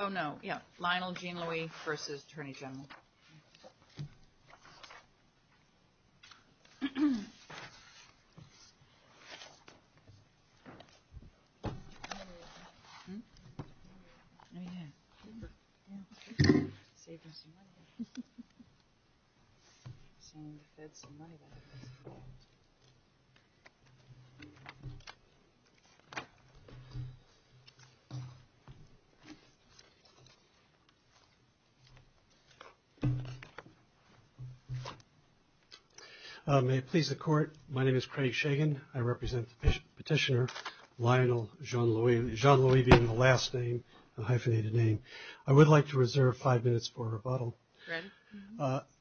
oh no yeah Lionel Jean-Louis versus Attorney General may it please the court my name is Craig Shagan I represent petitioner Lionel Jean-Louis Jean-Louis being the last name a hyphenated name I would like to reserve five minutes for rebuttal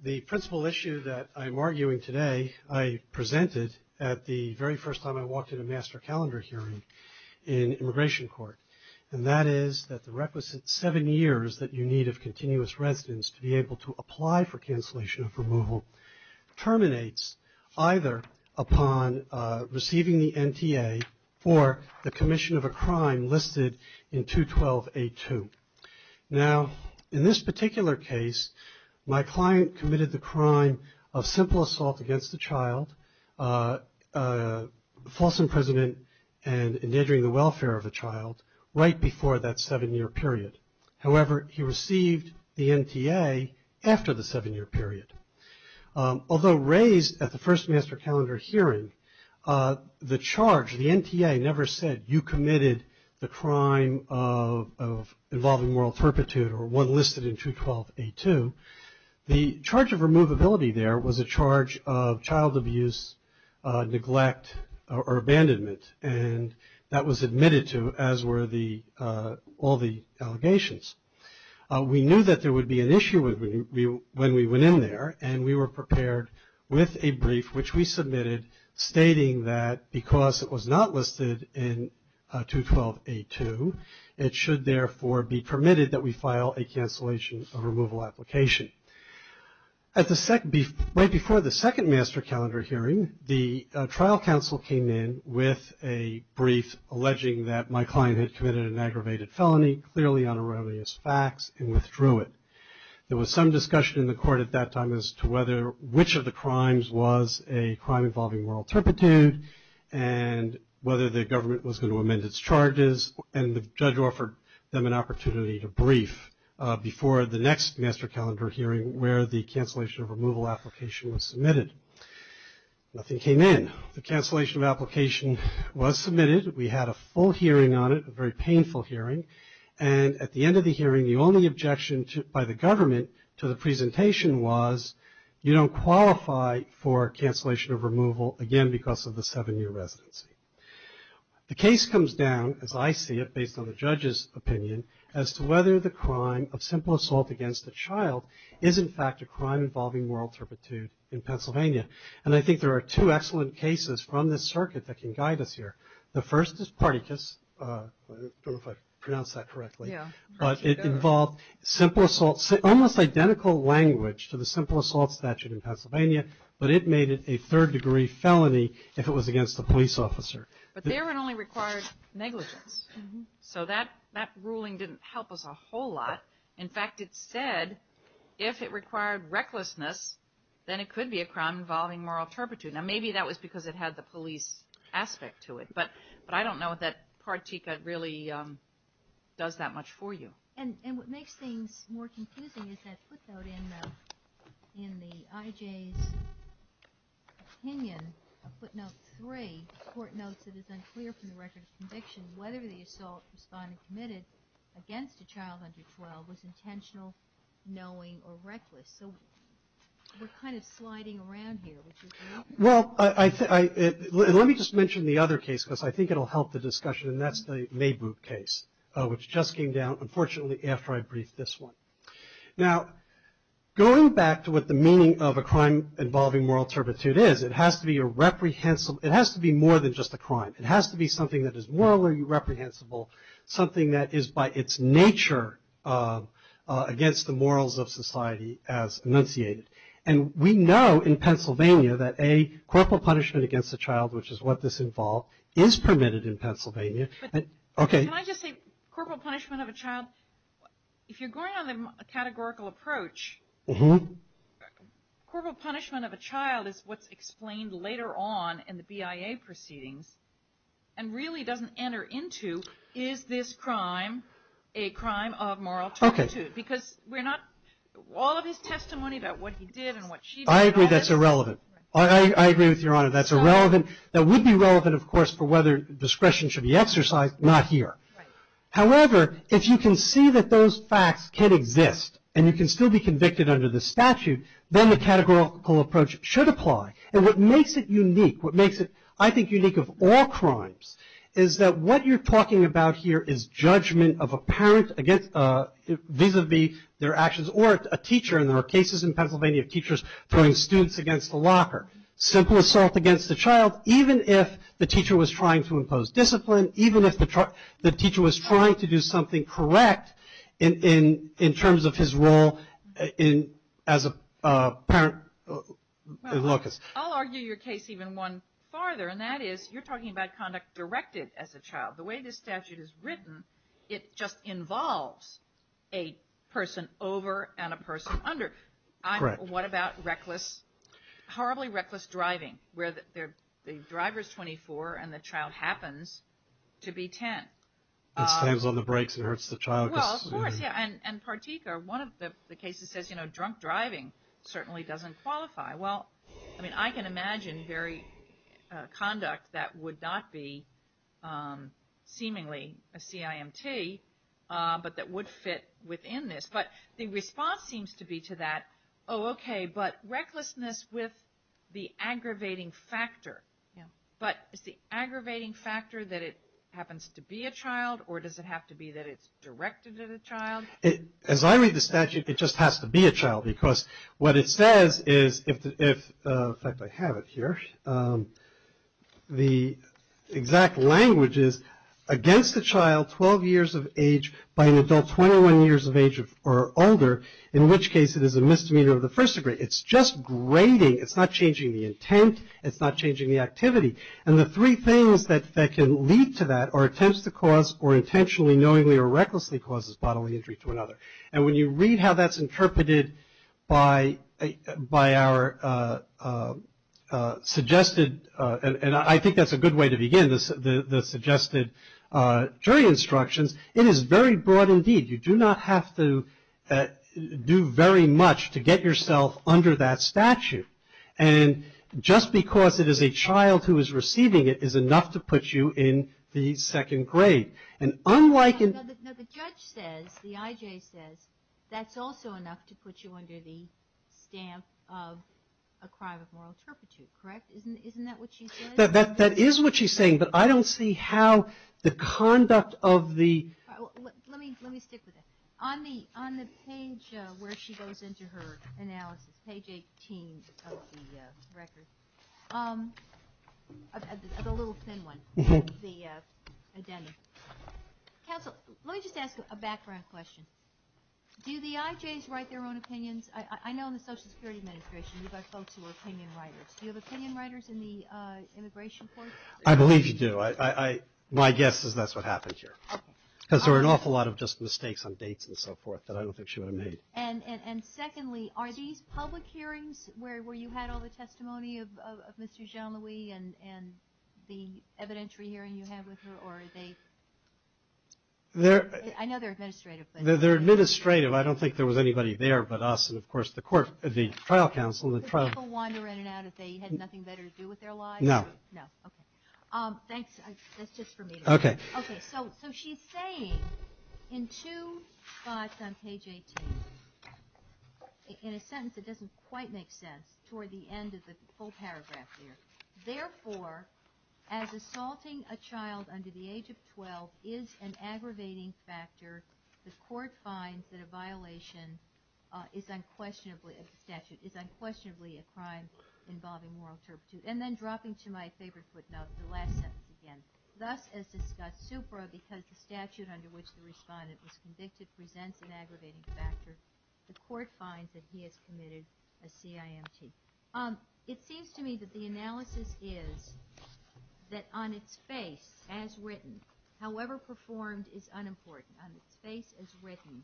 the principal issue that I'm arguing today I presented at the very first time I walked in a master calendar hearing in the requisite seven years that you need of continuous residence to be able to apply for cancellation of removal terminates either upon receiving the NTA for the commission of a crime listed in 212 a2 now in this particular case my client committed the crime of simple assault against the child false however he received the NTA after the seven-year period although raised at the first master calendar hearing the charge the NTA never said you committed the crime of involving moral turpitude or one listed in 212 a2 the charge of removability there was a charge of child abuse neglect or abandonment and that was admitted to as were the all the allegations we knew that there would be an issue with me when we went in there and we were prepared with a brief which we submitted stating that because it was not listed in 212 a2 it should therefore be permitted that we file a cancellation of removal application at the second before the second master calendar hearing the trial counsel came in with a alleging that my client had committed an aggravated felony clearly on erroneous facts and withdrew it there was some discussion in the court at that time as to whether which of the crimes was a crime involving moral turpitude and whether the government was going to amend its charges and the judge offered them an opportunity to brief before the next master calendar hearing where the cancellation of removal application was submitted nothing came in the full hearing on it a very painful hearing and at the end of the hearing the only objection to by the government to the presentation was you don't qualify for cancellation of removal again because of the seven-year residency the case comes down as I see it based on the judge's opinion as to whether the crime of simple assault against a child is in fact a crime involving moral turpitude in Pennsylvania and I think there are two excellent cases from the circuit that can guide us here the first is party kiss if I pronounce that correctly yeah but it involved simple assault say almost identical language to the simple assault statute in Pennsylvania but it made it a third degree felony if it was against the police officer but they weren't only required negligence so that that ruling didn't help us a whole lot in fact it said if it required recklessness then it could be a crime involving moral turpitude now maybe that was because it had the police aspect to it but but I don't know what that part Tika really does that much for you and and what makes things more confusing is that footnote in in the IJ's opinion footnote three court notes it is unclear from the record of conviction whether the assault responding committed against a child under 12 was intentional knowing or reckless so we're kind of sliding around well I think I let me just mention the other case because I think it'll help the discussion and that's the Maybrook case which just came down unfortunately after I briefed this one now going back to what the meaning of a crime involving moral turpitude is it has to be a reprehensible it has to be more than just a crime it has to be something that is morally reprehensible something that is by its nature against the morals of society as enunciated and we know in Pennsylvania that a corporal punishment against the child which is what this involved is permitted in Pennsylvania okay if you're going on a categorical approach mm-hmm corporal punishment of a child is what's explained later on in the BIA proceedings and really doesn't enter into is this crime a crime of moral turpitude because we're not all of his testimony about what he did and what I agree that's irrelevant I agree with your honor that's irrelevant that would be relevant of course for whether discretion should be exercised not here however if you can see that those facts can exist and you can still be convicted under the statute then the categorical approach should apply and what makes it unique what makes it I think unique of all crimes is that what you're talking about here is judgment of a parent against vis-a-vis their actions or a teacher and there are cases in Pennsylvania of teachers throwing students against the locker simple assault against the child even if the teacher was trying to impose discipline even if the truck the teacher was trying to do something correct in in in terms of his role in as a parent Lucas I'll argue your case even one farther and that is you're talking about conduct directed as a child the way this statute is written it just involves a person over and a person under what about reckless horribly reckless driving where that they're the drivers 24 and the child happens to be 10 times on the brakes it hurts the child and Partika one of the cases says you know drunk driving certainly doesn't qualify well I mean I can imagine very conduct that would not be seemingly a CIMT but that would fit within this but the response seems to be to that oh okay but recklessness with the aggravating factor yeah but it's the aggravating factor that it happens to be a child or does it have to be that it's directed at a child as I read the statute it just has to be a child because what it says is if I have it here the exact language is against the child 12 years of age by an adult 21 years of age or older in which case it is a misdemeanor of the first degree it's just grading it's not changing the intent it's not changing the activity and the three things that that can lead to that or attempts to cause or intentionally knowingly or recklessly causes bodily injury to another and when you read how that's interpreted by a by our suggested and I think that's a good way to begin this the suggested jury instructions it is very broad indeed you do not have to do very much to get yourself under that statute and just because it is a child who is receiving it is enough to put you in the second grade and unlike in the judge says the IJ says that's also enough to put you under the stamp of a crime of moral turpitude correct isn't that what she said that that is what she's saying but I don't see how the conduct of the on the on the page where she goes into her analysis page 18 of the record a little thin one let me just ask a background question do the IJs write their own opinions I know in the Social Security Administration you've got folks who are opinion writers you have opinion writers in the immigration court I believe you do I my guess is that's what happened here because there were an awful lot of just mistakes on and secondly are these public hearings where you had all the testimony of mr. Jean-louis and and the evidentiary hearing you have with her or they they're I know they're administrative but they're administrative I don't think there was anybody there but us and of course the court at the trial counsel okay okay so so she's saying in two spots on page 18 in a sentence it doesn't quite make sense toward the end of the full paragraph there therefore as assaulting a child under the age of 12 is an aggravating factor the court finds that a violation is unquestionably a statute is unquestionably a crime involving moral turpitude and then dropping to my favorite footnote the last sentence again thus as discussed supra because the statute under which the respondent was convicted presents an aggravating factor the court finds that he has committed a CIMT um it seems to me that the analysis is that on its face as written however performed is unimportant on its face as written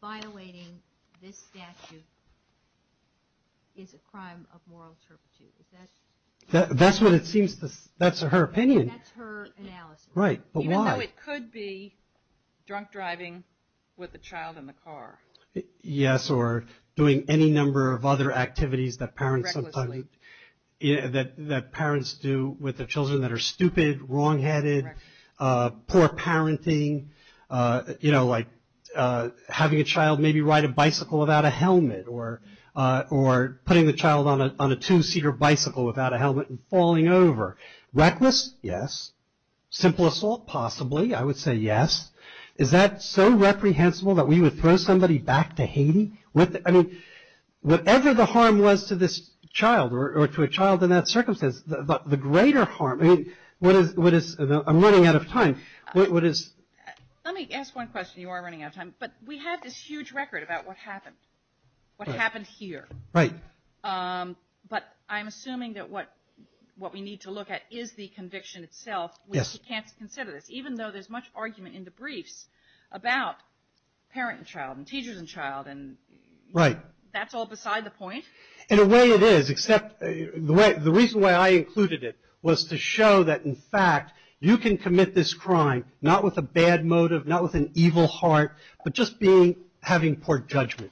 violating this statute is a crime of moral turpitude that that's what it seems this that's a her opinion right but why it could be drunk driving with the child in the car yes or doing any number of other activities that parents do with the children that are stupid wrong-headed poor parenting you know like having a child maybe ride a bicycle without a helmet or or putting the child on a two-seater bicycle without a helmet and falling over reckless yes simple assault possibly I would say yes is that so reprehensible that we would throw back to Haiti with I mean whatever the harm was to this child or to a child in that circumstance the greater harm I mean what is what is I'm running out of time what is let me ask one question you are running out of time but we have this huge record about what happened what happened here right but I'm assuming that what what we need to look at is the conviction itself yes can't consider this even though there's much argument in the briefs about parent and child and teachers and child and right that's all beside the point in a way it is except the way the reason why I included it was to show that in fact you can commit this crime not with a bad motive not with an evil heart but just being having poor judgment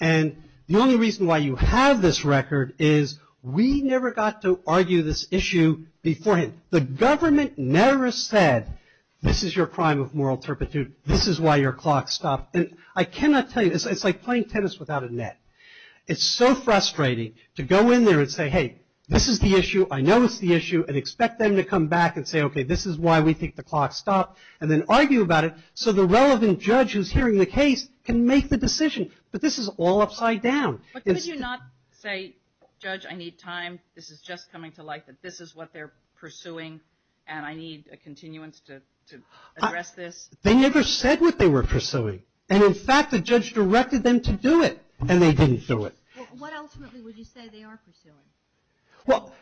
and the only reason why you have this record is we never got to argue this issue before the government never said this is your crime of moral turpitude this is why your clock stopped and I cannot tell you this it's like playing tennis without a net it's so frustrating to go in there and say hey this is the issue I know it's the issue and expect them to come back and say okay this is why we think the clock stopped and then argue about it so the relevant judge who's hearing the case can make the decision but this is all like that this is what they're pursuing and I need a continuance to this they never said what they were pursuing and in fact the judge directed them to do it and they didn't do it well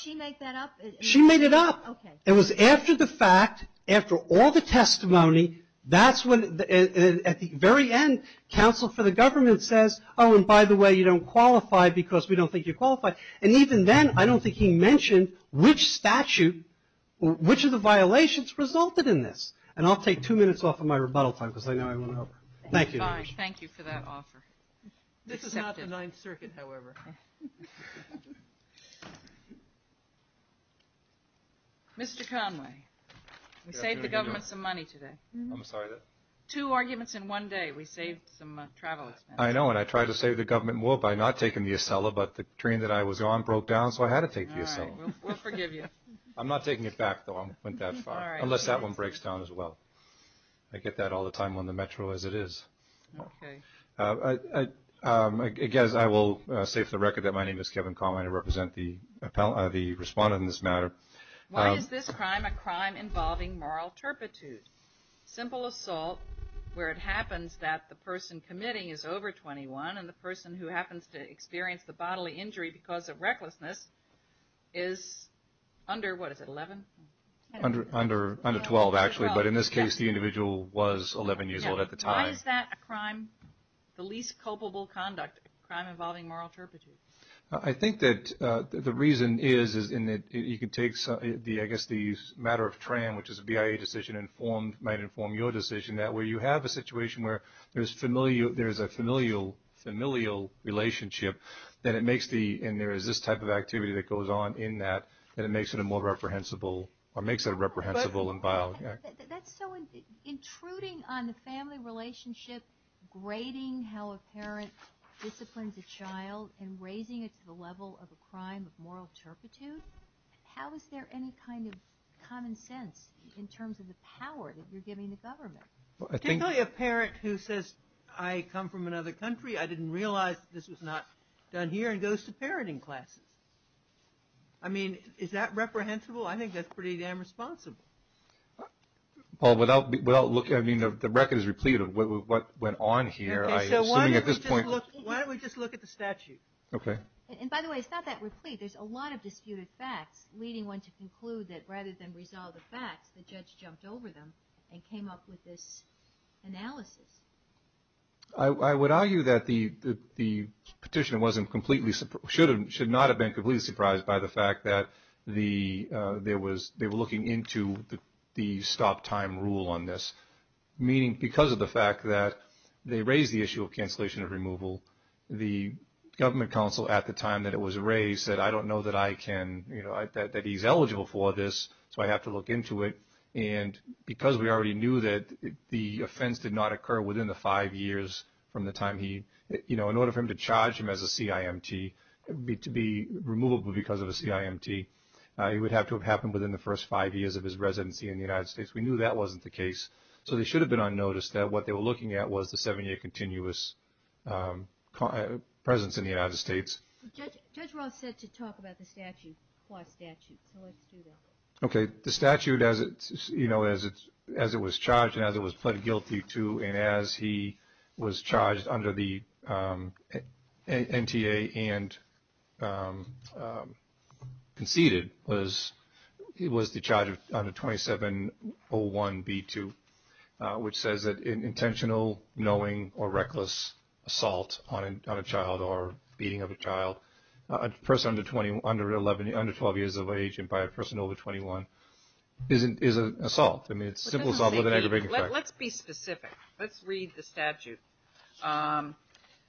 she made it up it was after the fact after all the testimony that's what at the very end counsel for the government says oh and by the way you don't qualify because we don't think you qualify and even then I mentioned which statute which of the violations resulted in this and I'll take two minutes off of my rebuttal time because I know I won't know thank you thank you for that offer this is not the ninth circuit however mr. Conway save the government some money today I'm sorry that two arguments in one day we saved some travel I know and I tried to say the government will buy not taking the Acela but the train that I was on broke down so I had to take you so I'm not taking it back though I went that far unless that one breaks down as well I get that all the time on the Metro as it is I guess I will say for the record that my name is Kevin Conway to represent the the respondent in this matter why is this crime a crime involving moral turpitude simple assault where it happens that the person committing is over 21 and the person who happens to experience the bodily injury because of recklessness is under what is it 11 under under under 12 actually but in this case the individual was 11 years old at the time is that a crime the least culpable conduct crime involving moral turpitude I think that the reason is is in that you could take some the I guess these matter of tram which is a BIA decision informed might inform your decision that way you have a situation where there's familiar there's a familial familial relationship that it makes the in there is this type of activity that goes on in that and it makes it a more reprehensible or makes it a reprehensible and violent intruding on the family relationship grading how a parent disciplines a child and raising it to the level of a crime of moral turpitude how is there any kind of common sense in terms of the power that I think a parent who says I come from another country I didn't realize this was not done here and goes to parenting classes I mean is that reprehensible I think that's pretty damn responsible well without without looking I mean of the record is replete of what went on here at this point why don't we just look at the statute okay and by the way it's not that replete there's a lot of disputed facts leading one to conclude that rather than resolve the facts the came up with this analysis I would argue that the the petitioner wasn't completely should have should not have been completely surprised by the fact that the there was they were looking into the stop time rule on this meaning because of the fact that they raised the issue of cancellation of removal the Government Council at the time that it was raised said I don't know that I can you know that he's eligible for this so I have to look into it and because we already knew that the offense did not occur within the five years from the time he you know in order for him to charge him as a CIMT to be removable because of a CIMT he would have to have happened within the first five years of his residency in the United States we knew that wasn't the case so they should have been unnoticed that what they were looking at was the seven-year continuous presence in the United States okay the statute as it's you know as it's as it was charged and as it was pled guilty to and as he was charged under the NTA and conceded was it was the charge of under 2701 b2 which says that an intentional knowing or reckless assault on a child or beating of a child a person under 20 under 11 under 12 years of age and by a person over 21 isn't is a assault I mean it's simple solve with an aggravated let's be specific let's read the statute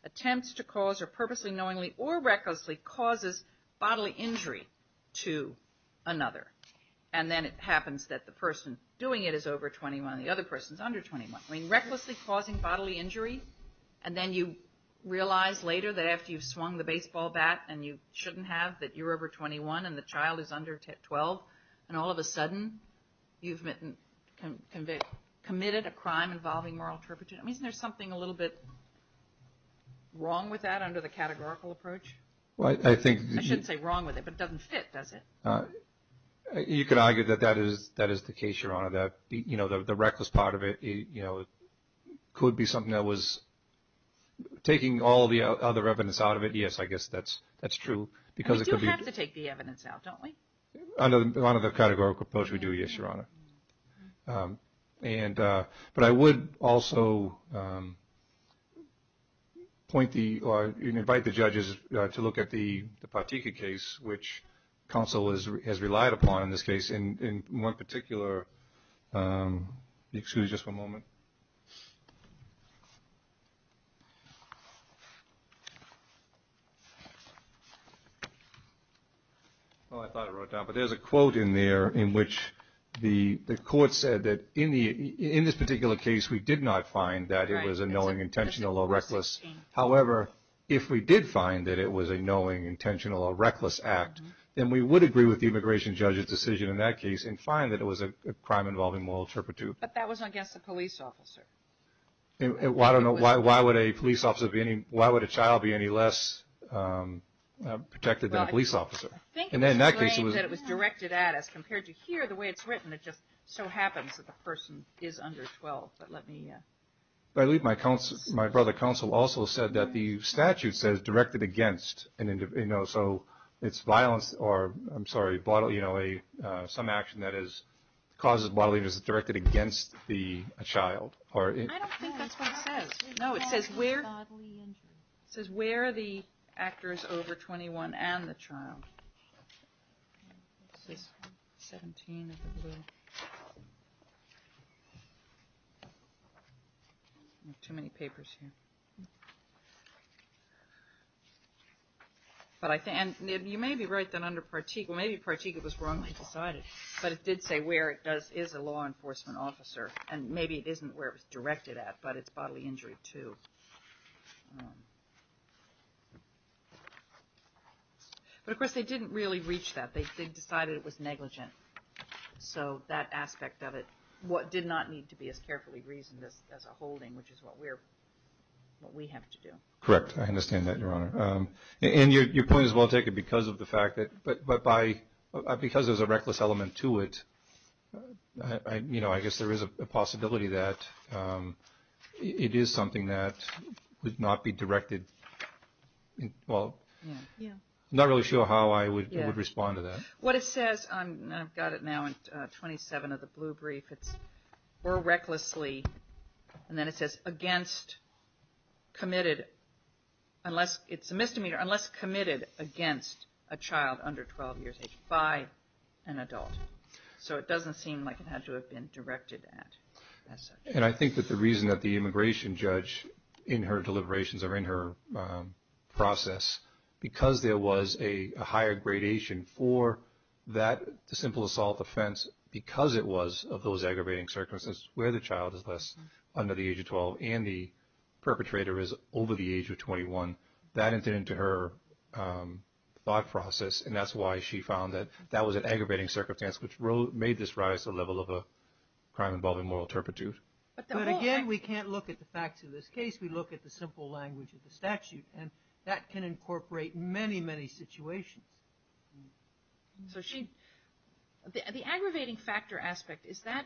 attempts to cause or purposely knowingly or recklessly causes bodily injury to another and then it happens that the person doing it is over 21 the other person's under 21 I mean recklessly causing bodily injury and then you realize later that after you've swung the baseball bat and you shouldn't have that you're over 21 and the child is under 12 and all of a sudden you've committed a crime involving moral interpretation isn't there something a little bit wrong with that under the categorical approach well I think I shouldn't say wrong with it but doesn't fit does it you could argue that that is that is the case your honor that you know the reckless part of it you know it could be something that was taking all the other evidence out of it yes I guess that's that's true because you have to take the evidence out don't we another one of the categorical approach we do yes your honor and but I would also point the invite the judges to look at the particular case which counsel is has relied upon in this case in one particular in which the court said that in this particular case we did not find that it was a knowing intentional or reckless however if we did find that it was a knowing intentional or reckless act and we would agree with the crime involving moral interpretive but that was I guess the police officer why don't know why why would a police officer be any why would a child be any less protected than a police officer and then it was directed at us compared to here the way it's written it just so happens that the person is under 12 but let me leave my council my brother council also said that the statute says directed against an individual so it's violence or I'm sorry bottle you know a some action that is causes bodily injuries directed against the child or it says we're says where the actors over 21 and the child too many papers here but I think and you may be right then under Partique maybe Partique it was decided but it did say where it does is a law enforcement officer and maybe it isn't where it was directed at but it's bodily injury too but of course they didn't really reach that they decided it was negligent so that aspect of it what did not need to be as carefully reasoned as a holding which is what we're what we have to do correct I understand that your honor and your point is well taken because of the fact that but but by because there's a reckless element to it you know I guess there is a possibility that it is something that would not be directed well not really sure how I would respond to that what it says I've got it now in 27 of the blue brief it's or recklessly and then it says against committed unless it's a misdemeanor unless committed against a child under 12 years age by an adult so it doesn't seem like it had to have been directed at and I think that the reason that the immigration judge in her deliberations are in her process because there was a higher gradation for that the simple assault offense because it was of those aggravating circumstances where the perpetrator is over the age of 21 that incident to her thought process and that's why she found that that was an aggravating circumstance which road made this rise a level of a crime involving moral turpitude but again we can't look at the facts of this case we look at the simple language of the statute and that can incorporate many many situations so she the aggravating factor aspect is that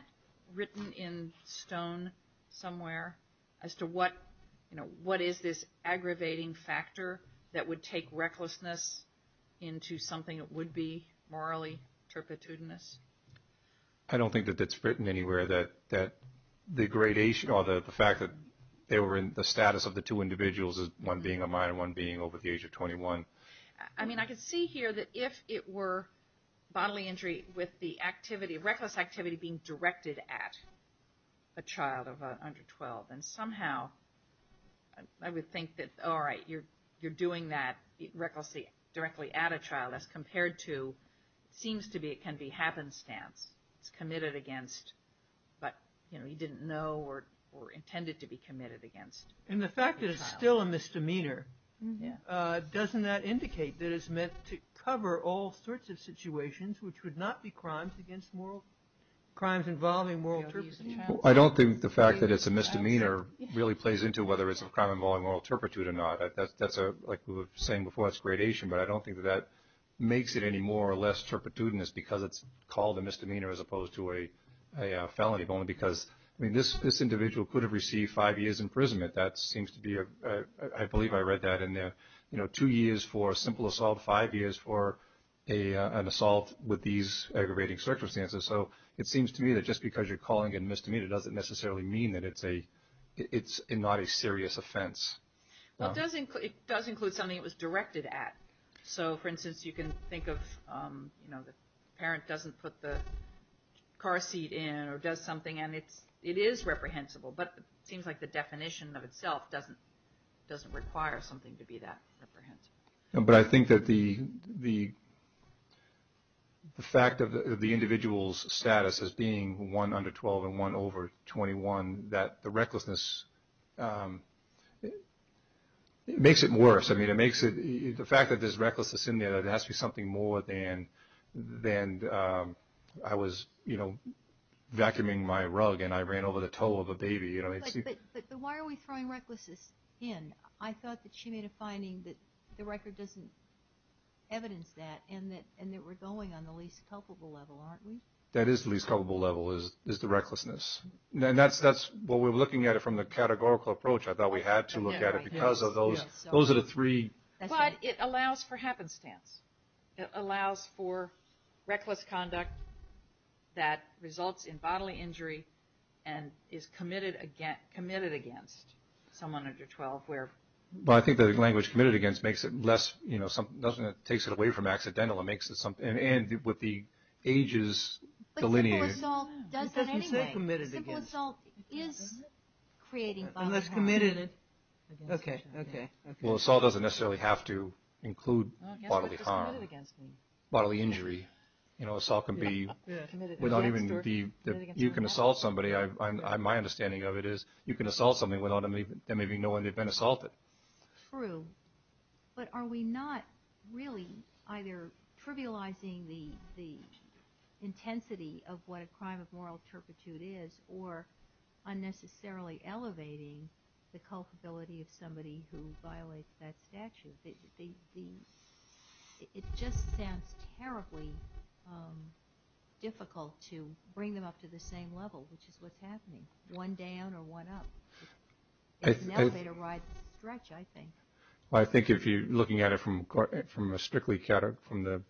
written in stone somewhere as to what you know what is this aggravating factor that would take recklessness into something it would be morally turpitude in this I don't think that that's written anywhere that that the gradation or the fact that they were in the status of the two individuals is one being a minor one being over the age of 21 I mean I could see here that if it were bodily injury with the activity reckless activity being directed at a child of under 12 and somehow I would think that all right you're you're doing that recklessly directly at a child as compared to seems to be it can be happenstance it's committed against but you know he didn't know or or intended to be committed against and the fact that it's still a misdemeanor yeah doesn't that indicate that it's meant to cover all sorts of situations which would not be crimes against moral crimes involving moral I don't think the fact that it's a misdemeanor really plays into whether it's a crime involving moral turpitude or not that's that's a like we were saying before it's gradation but I don't think that makes it any more or less turpitude in this because it's called a misdemeanor as opposed to a felony bone because I mean this this individual could have received five years imprisonment that seems to be a I simple assault five years for a an assault with these aggravating circumstances so it seems to me that just because you're calling it misdemeanor doesn't necessarily mean that it's a it's a not a serious offense well doesn't it does include something it was directed at so for instance you can think of you know the parent doesn't put the car seat in or does something and it's it is reprehensible but seems like the definition of itself doesn't require something to be that but I think that the the fact of the individual's status as being one under 12 and one over 21 that the recklessness it makes it worse I mean it makes it the fact that there's recklessness in there that has to be something more than then I was you know vacuuming my rug and I ran over the toe of a baby you know why are we throwing recklessness in I thought that she made a finding that the record doesn't evidence that and that and that we're going on the least culpable level aren't we that is least culpable level is is the recklessness then that's that's what we're looking at it from the categorical approach I thought we had to look at it because of those those are the three but it allows for happenstance it allows for reckless conduct that is committed against committed against someone under 12 where well I think the language committed against makes it less you know something doesn't it takes it away from accidental it makes it something and with the ages okay well assault doesn't necessarily have to include bodily harm bodily injury you assault can be without even the you can assault somebody I my understanding of it is you can assault something without them even there may be no one they've been assaulted true but are we not really either trivializing the intensity of what a crime of moral turpitude is or unnecessarily elevating the culpability of somebody who violates that statute it just sounds terribly difficult to bring them up to the same level which is what's happening one down or one up I think I think if you're looking at it from court from a strictly catered from the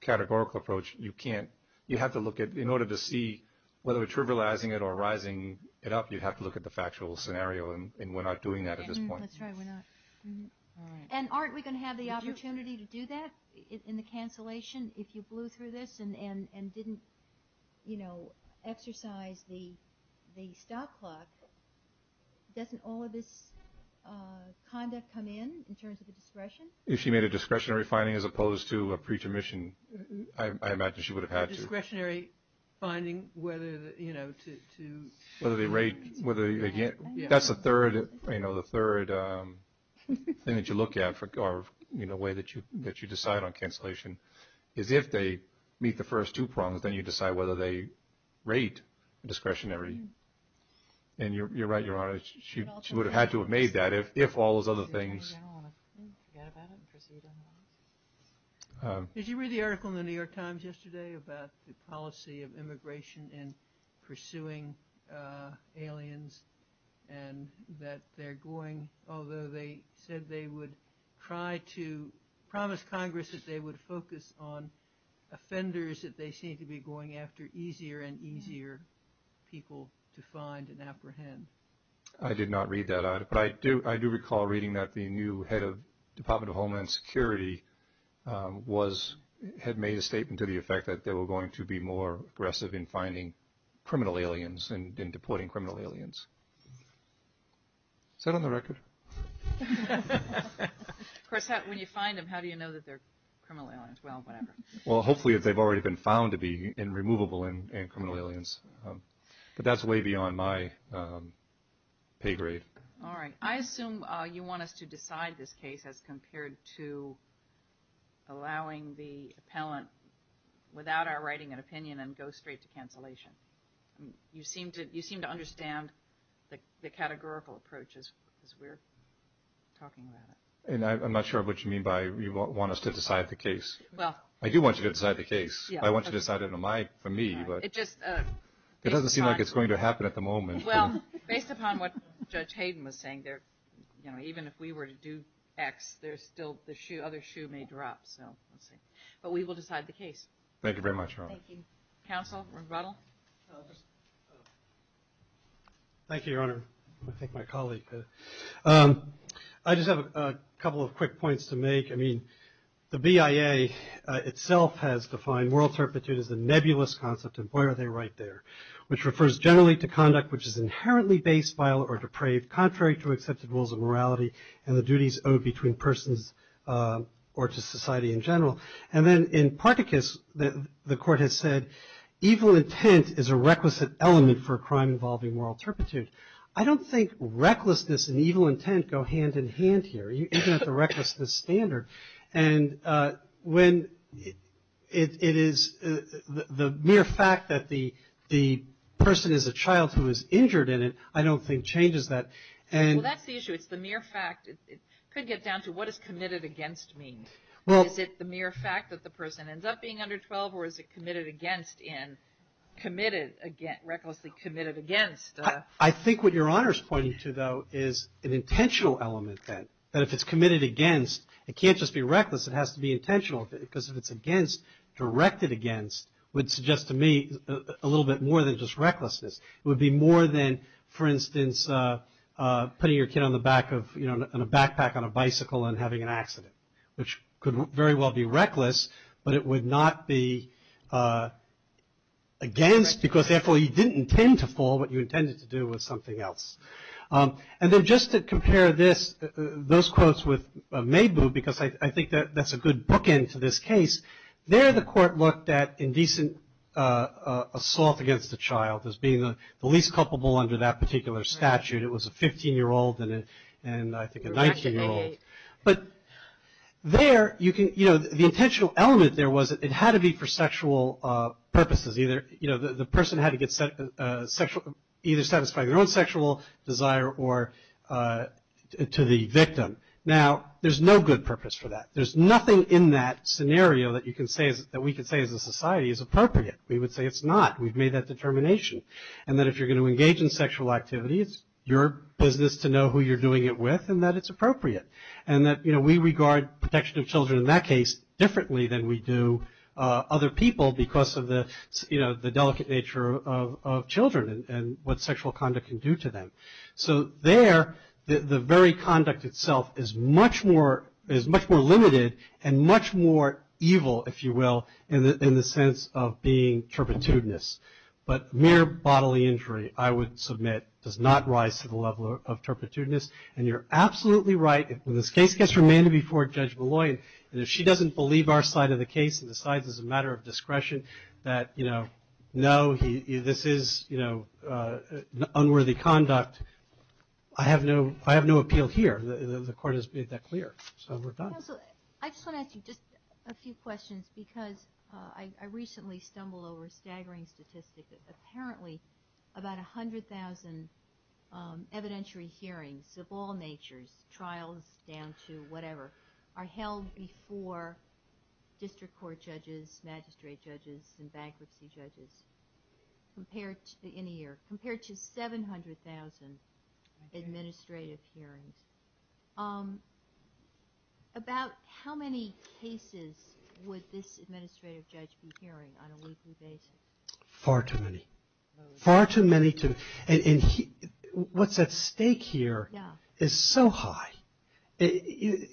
categorical approach you can't you have to look at in order to see whether we're trivializing it or rising it up you'd have to look at the factual scenario and we're not doing that at this point and aren't we gonna have the opportunity to do that in the cancellation if you blew through this and and and didn't you know exercise the the stop clock doesn't all of this conduct come in in terms of the discretion if she made a discretionary finding as opposed to a preacher mission I imagine she would have had discretionary finding whether you know to whether they rate whether you get that's the third you know the third thing that you look at for guard you know way that you that you decide on cancellation is if they meet the first two prongs then you decide whether they rate discretionary and you're right your honor she would have had to have made that if if all those other things did you read the immigration in pursuing aliens and that they're going although they said they would try to promise Congress that they would focus on offenders that they seem to be going after easier and easier people to find and apprehend I did not read that I but I do I do recall reading that the new head of Department of Homeland Security was had made a statement to the effect that they were going to be more aggressive in finding criminal aliens and in deporting criminal aliens set on the record when you find them how do you know that they're well hopefully they've already been found to be in removable in criminal aliens but that's way beyond my pay grade all right I assume you want us to decide this case as compared to allowing the appellant without our writing an opinion and go straight to cancellation you seem to you seem to understand the categorical approaches and I'm not sure what you mean by we won't want us to decide the case well I do want you to decide the case I want you decided on my for me but it doesn't seem like it's going to happen at the moment well based upon what judge Hayden was saying there you know even if we were to do X there's still the shoe other shoe may drop so let's see but we will decide the case thank you very much Council thank you your honor I think my colleague I just have a couple of quick points to make I mean the BIA itself has defined world's herpitude is a nebulous concept of where are they right there which refers generally to conduct which is inherently based vile or depraved contrary to accepted rules of morality and the duties owed between persons or to society in general and then in Particus that the court has said evil intent is a requisite element for a crime involving moral turpitude I don't think recklessness and evil intent go hand-in-hand here you don't the recklessness standard and when it is the mere fact that the the person is a child who is injured in it I don't think changes that and that's the issue it's the mere fact it could get down to what is committed against means well is it the mere fact that the person ends up being under 12 or is it committed against in committed again recklessly committed against I think what your honor is pointing to though is an intentional element then that if it's committed against it can't just be reckless it has to be intentional because if it's against directed against would suggest to me a little bit more than just recklessness would be more than for instance putting your kid on the back of you know in a backpack on a bicycle and having an accident which could very well be reckless but it would not be against because therefore you didn't intend to fall what you intended to do with something else and then just to compare this those quotes with may boo because I think that that's a good bookend to this case there the court looked at indecent assault against the child as being the least culpable under that particular statute it was a 15 year old and and I think a 19 year old but there you can you know the intentional element there was it had to be for sexual purposes either you know the person had to get sexual either satisfy their own sexual desire or to the victim now there's no good purpose for that there's nothing in that scenario that you can say that we could say as a society is appropriate we would say it's not we've made that determination and that if you're going to engage in sexual activity it's your business to know who you're doing it with and that it's appropriate and that you know we regard protection of children in that case differently than we do other people because of the you know the delicate nature of children and what sexual conduct can do to them so there the very conduct itself is much more is much more limited and much more evil if you will in the sense of being turpitudenous but mere bodily injury I would submit does not rise to the level of turpitudenous and you're absolutely right in this case gets remanded before Judge Malloy and if she doesn't believe our side of the case and decides as a know he this is you know unworthy conduct I have no I have no appeal here the court has made that clear so we're done I just want to ask you just a few questions because I recently stumbled over a staggering statistic apparently about a hundred thousand evidentiary hearings of all natures trials down to whatever are held before district court judges magistrate judges and bankruptcy judges compared to any year compared to 700,000 administrative hearings about how many cases would this administrative judge be hearing on a weekly basis far too many far too many to and what's at stake here is so high you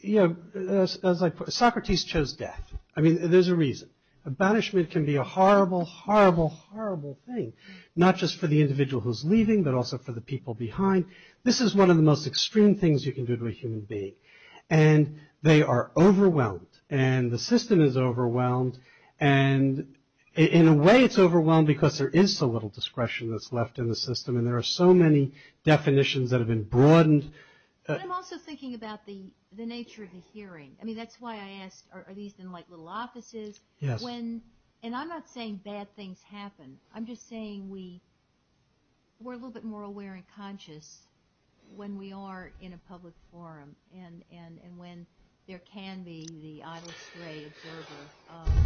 know as I put Socrates chose death I mean there's a reason Abanishment can be a horrible horrible horrible thing not just for the individual who's leaving but also for the people behind this is one of the most extreme things you can do to a human being and they are overwhelmed and the system is overwhelmed and in a way it's overwhelmed because there is so little discretion that's left in the system and there are so many definitions that have been broadened. I'm also thinking about the nature of the hearing I mean that's why I asked are these in like little offices when and I'm not saying bad things happen I'm just saying we we're a little bit more aware and conscious when we are in a public forum and and and when there can be the idle stray observer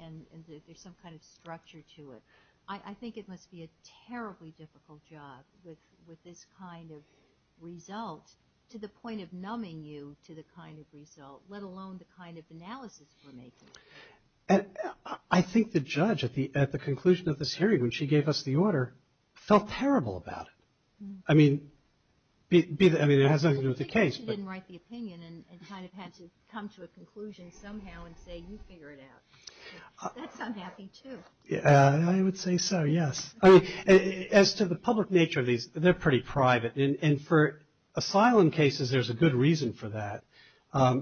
and there's some kind of structure to it I think it must be a terribly difficult job with with this kind of result to the point of numbing you to the kind of result let alone the kind of analysis for me and I think the judge at the at the conclusion of this hearing when she gave us the order felt terrible about it I mean be that I mean it has nothing to do with the case as to the public nature of these they're pretty private and for asylum cases there's a good reason for that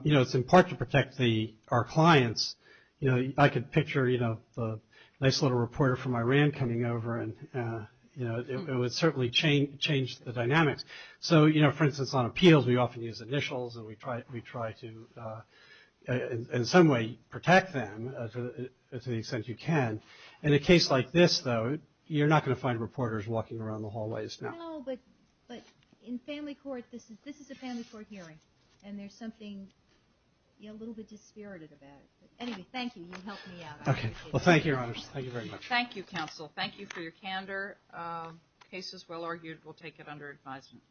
you know it's in part to protect the our clients you know I could picture you know the nice little reporter from Iran coming over and you know it would certainly change change the dynamics so you know for instance on appeals we often use initials and we try we try to in some way protect them to the extent you can in a case like this though you're not going to find reporters walking around the hallways but in family court this is this is a family court hearing and there's something a little bit dispirited about it anyway thank you okay well thank you thank you very much thank you counsel thank you for your candor cases well argued we'll take it under advisement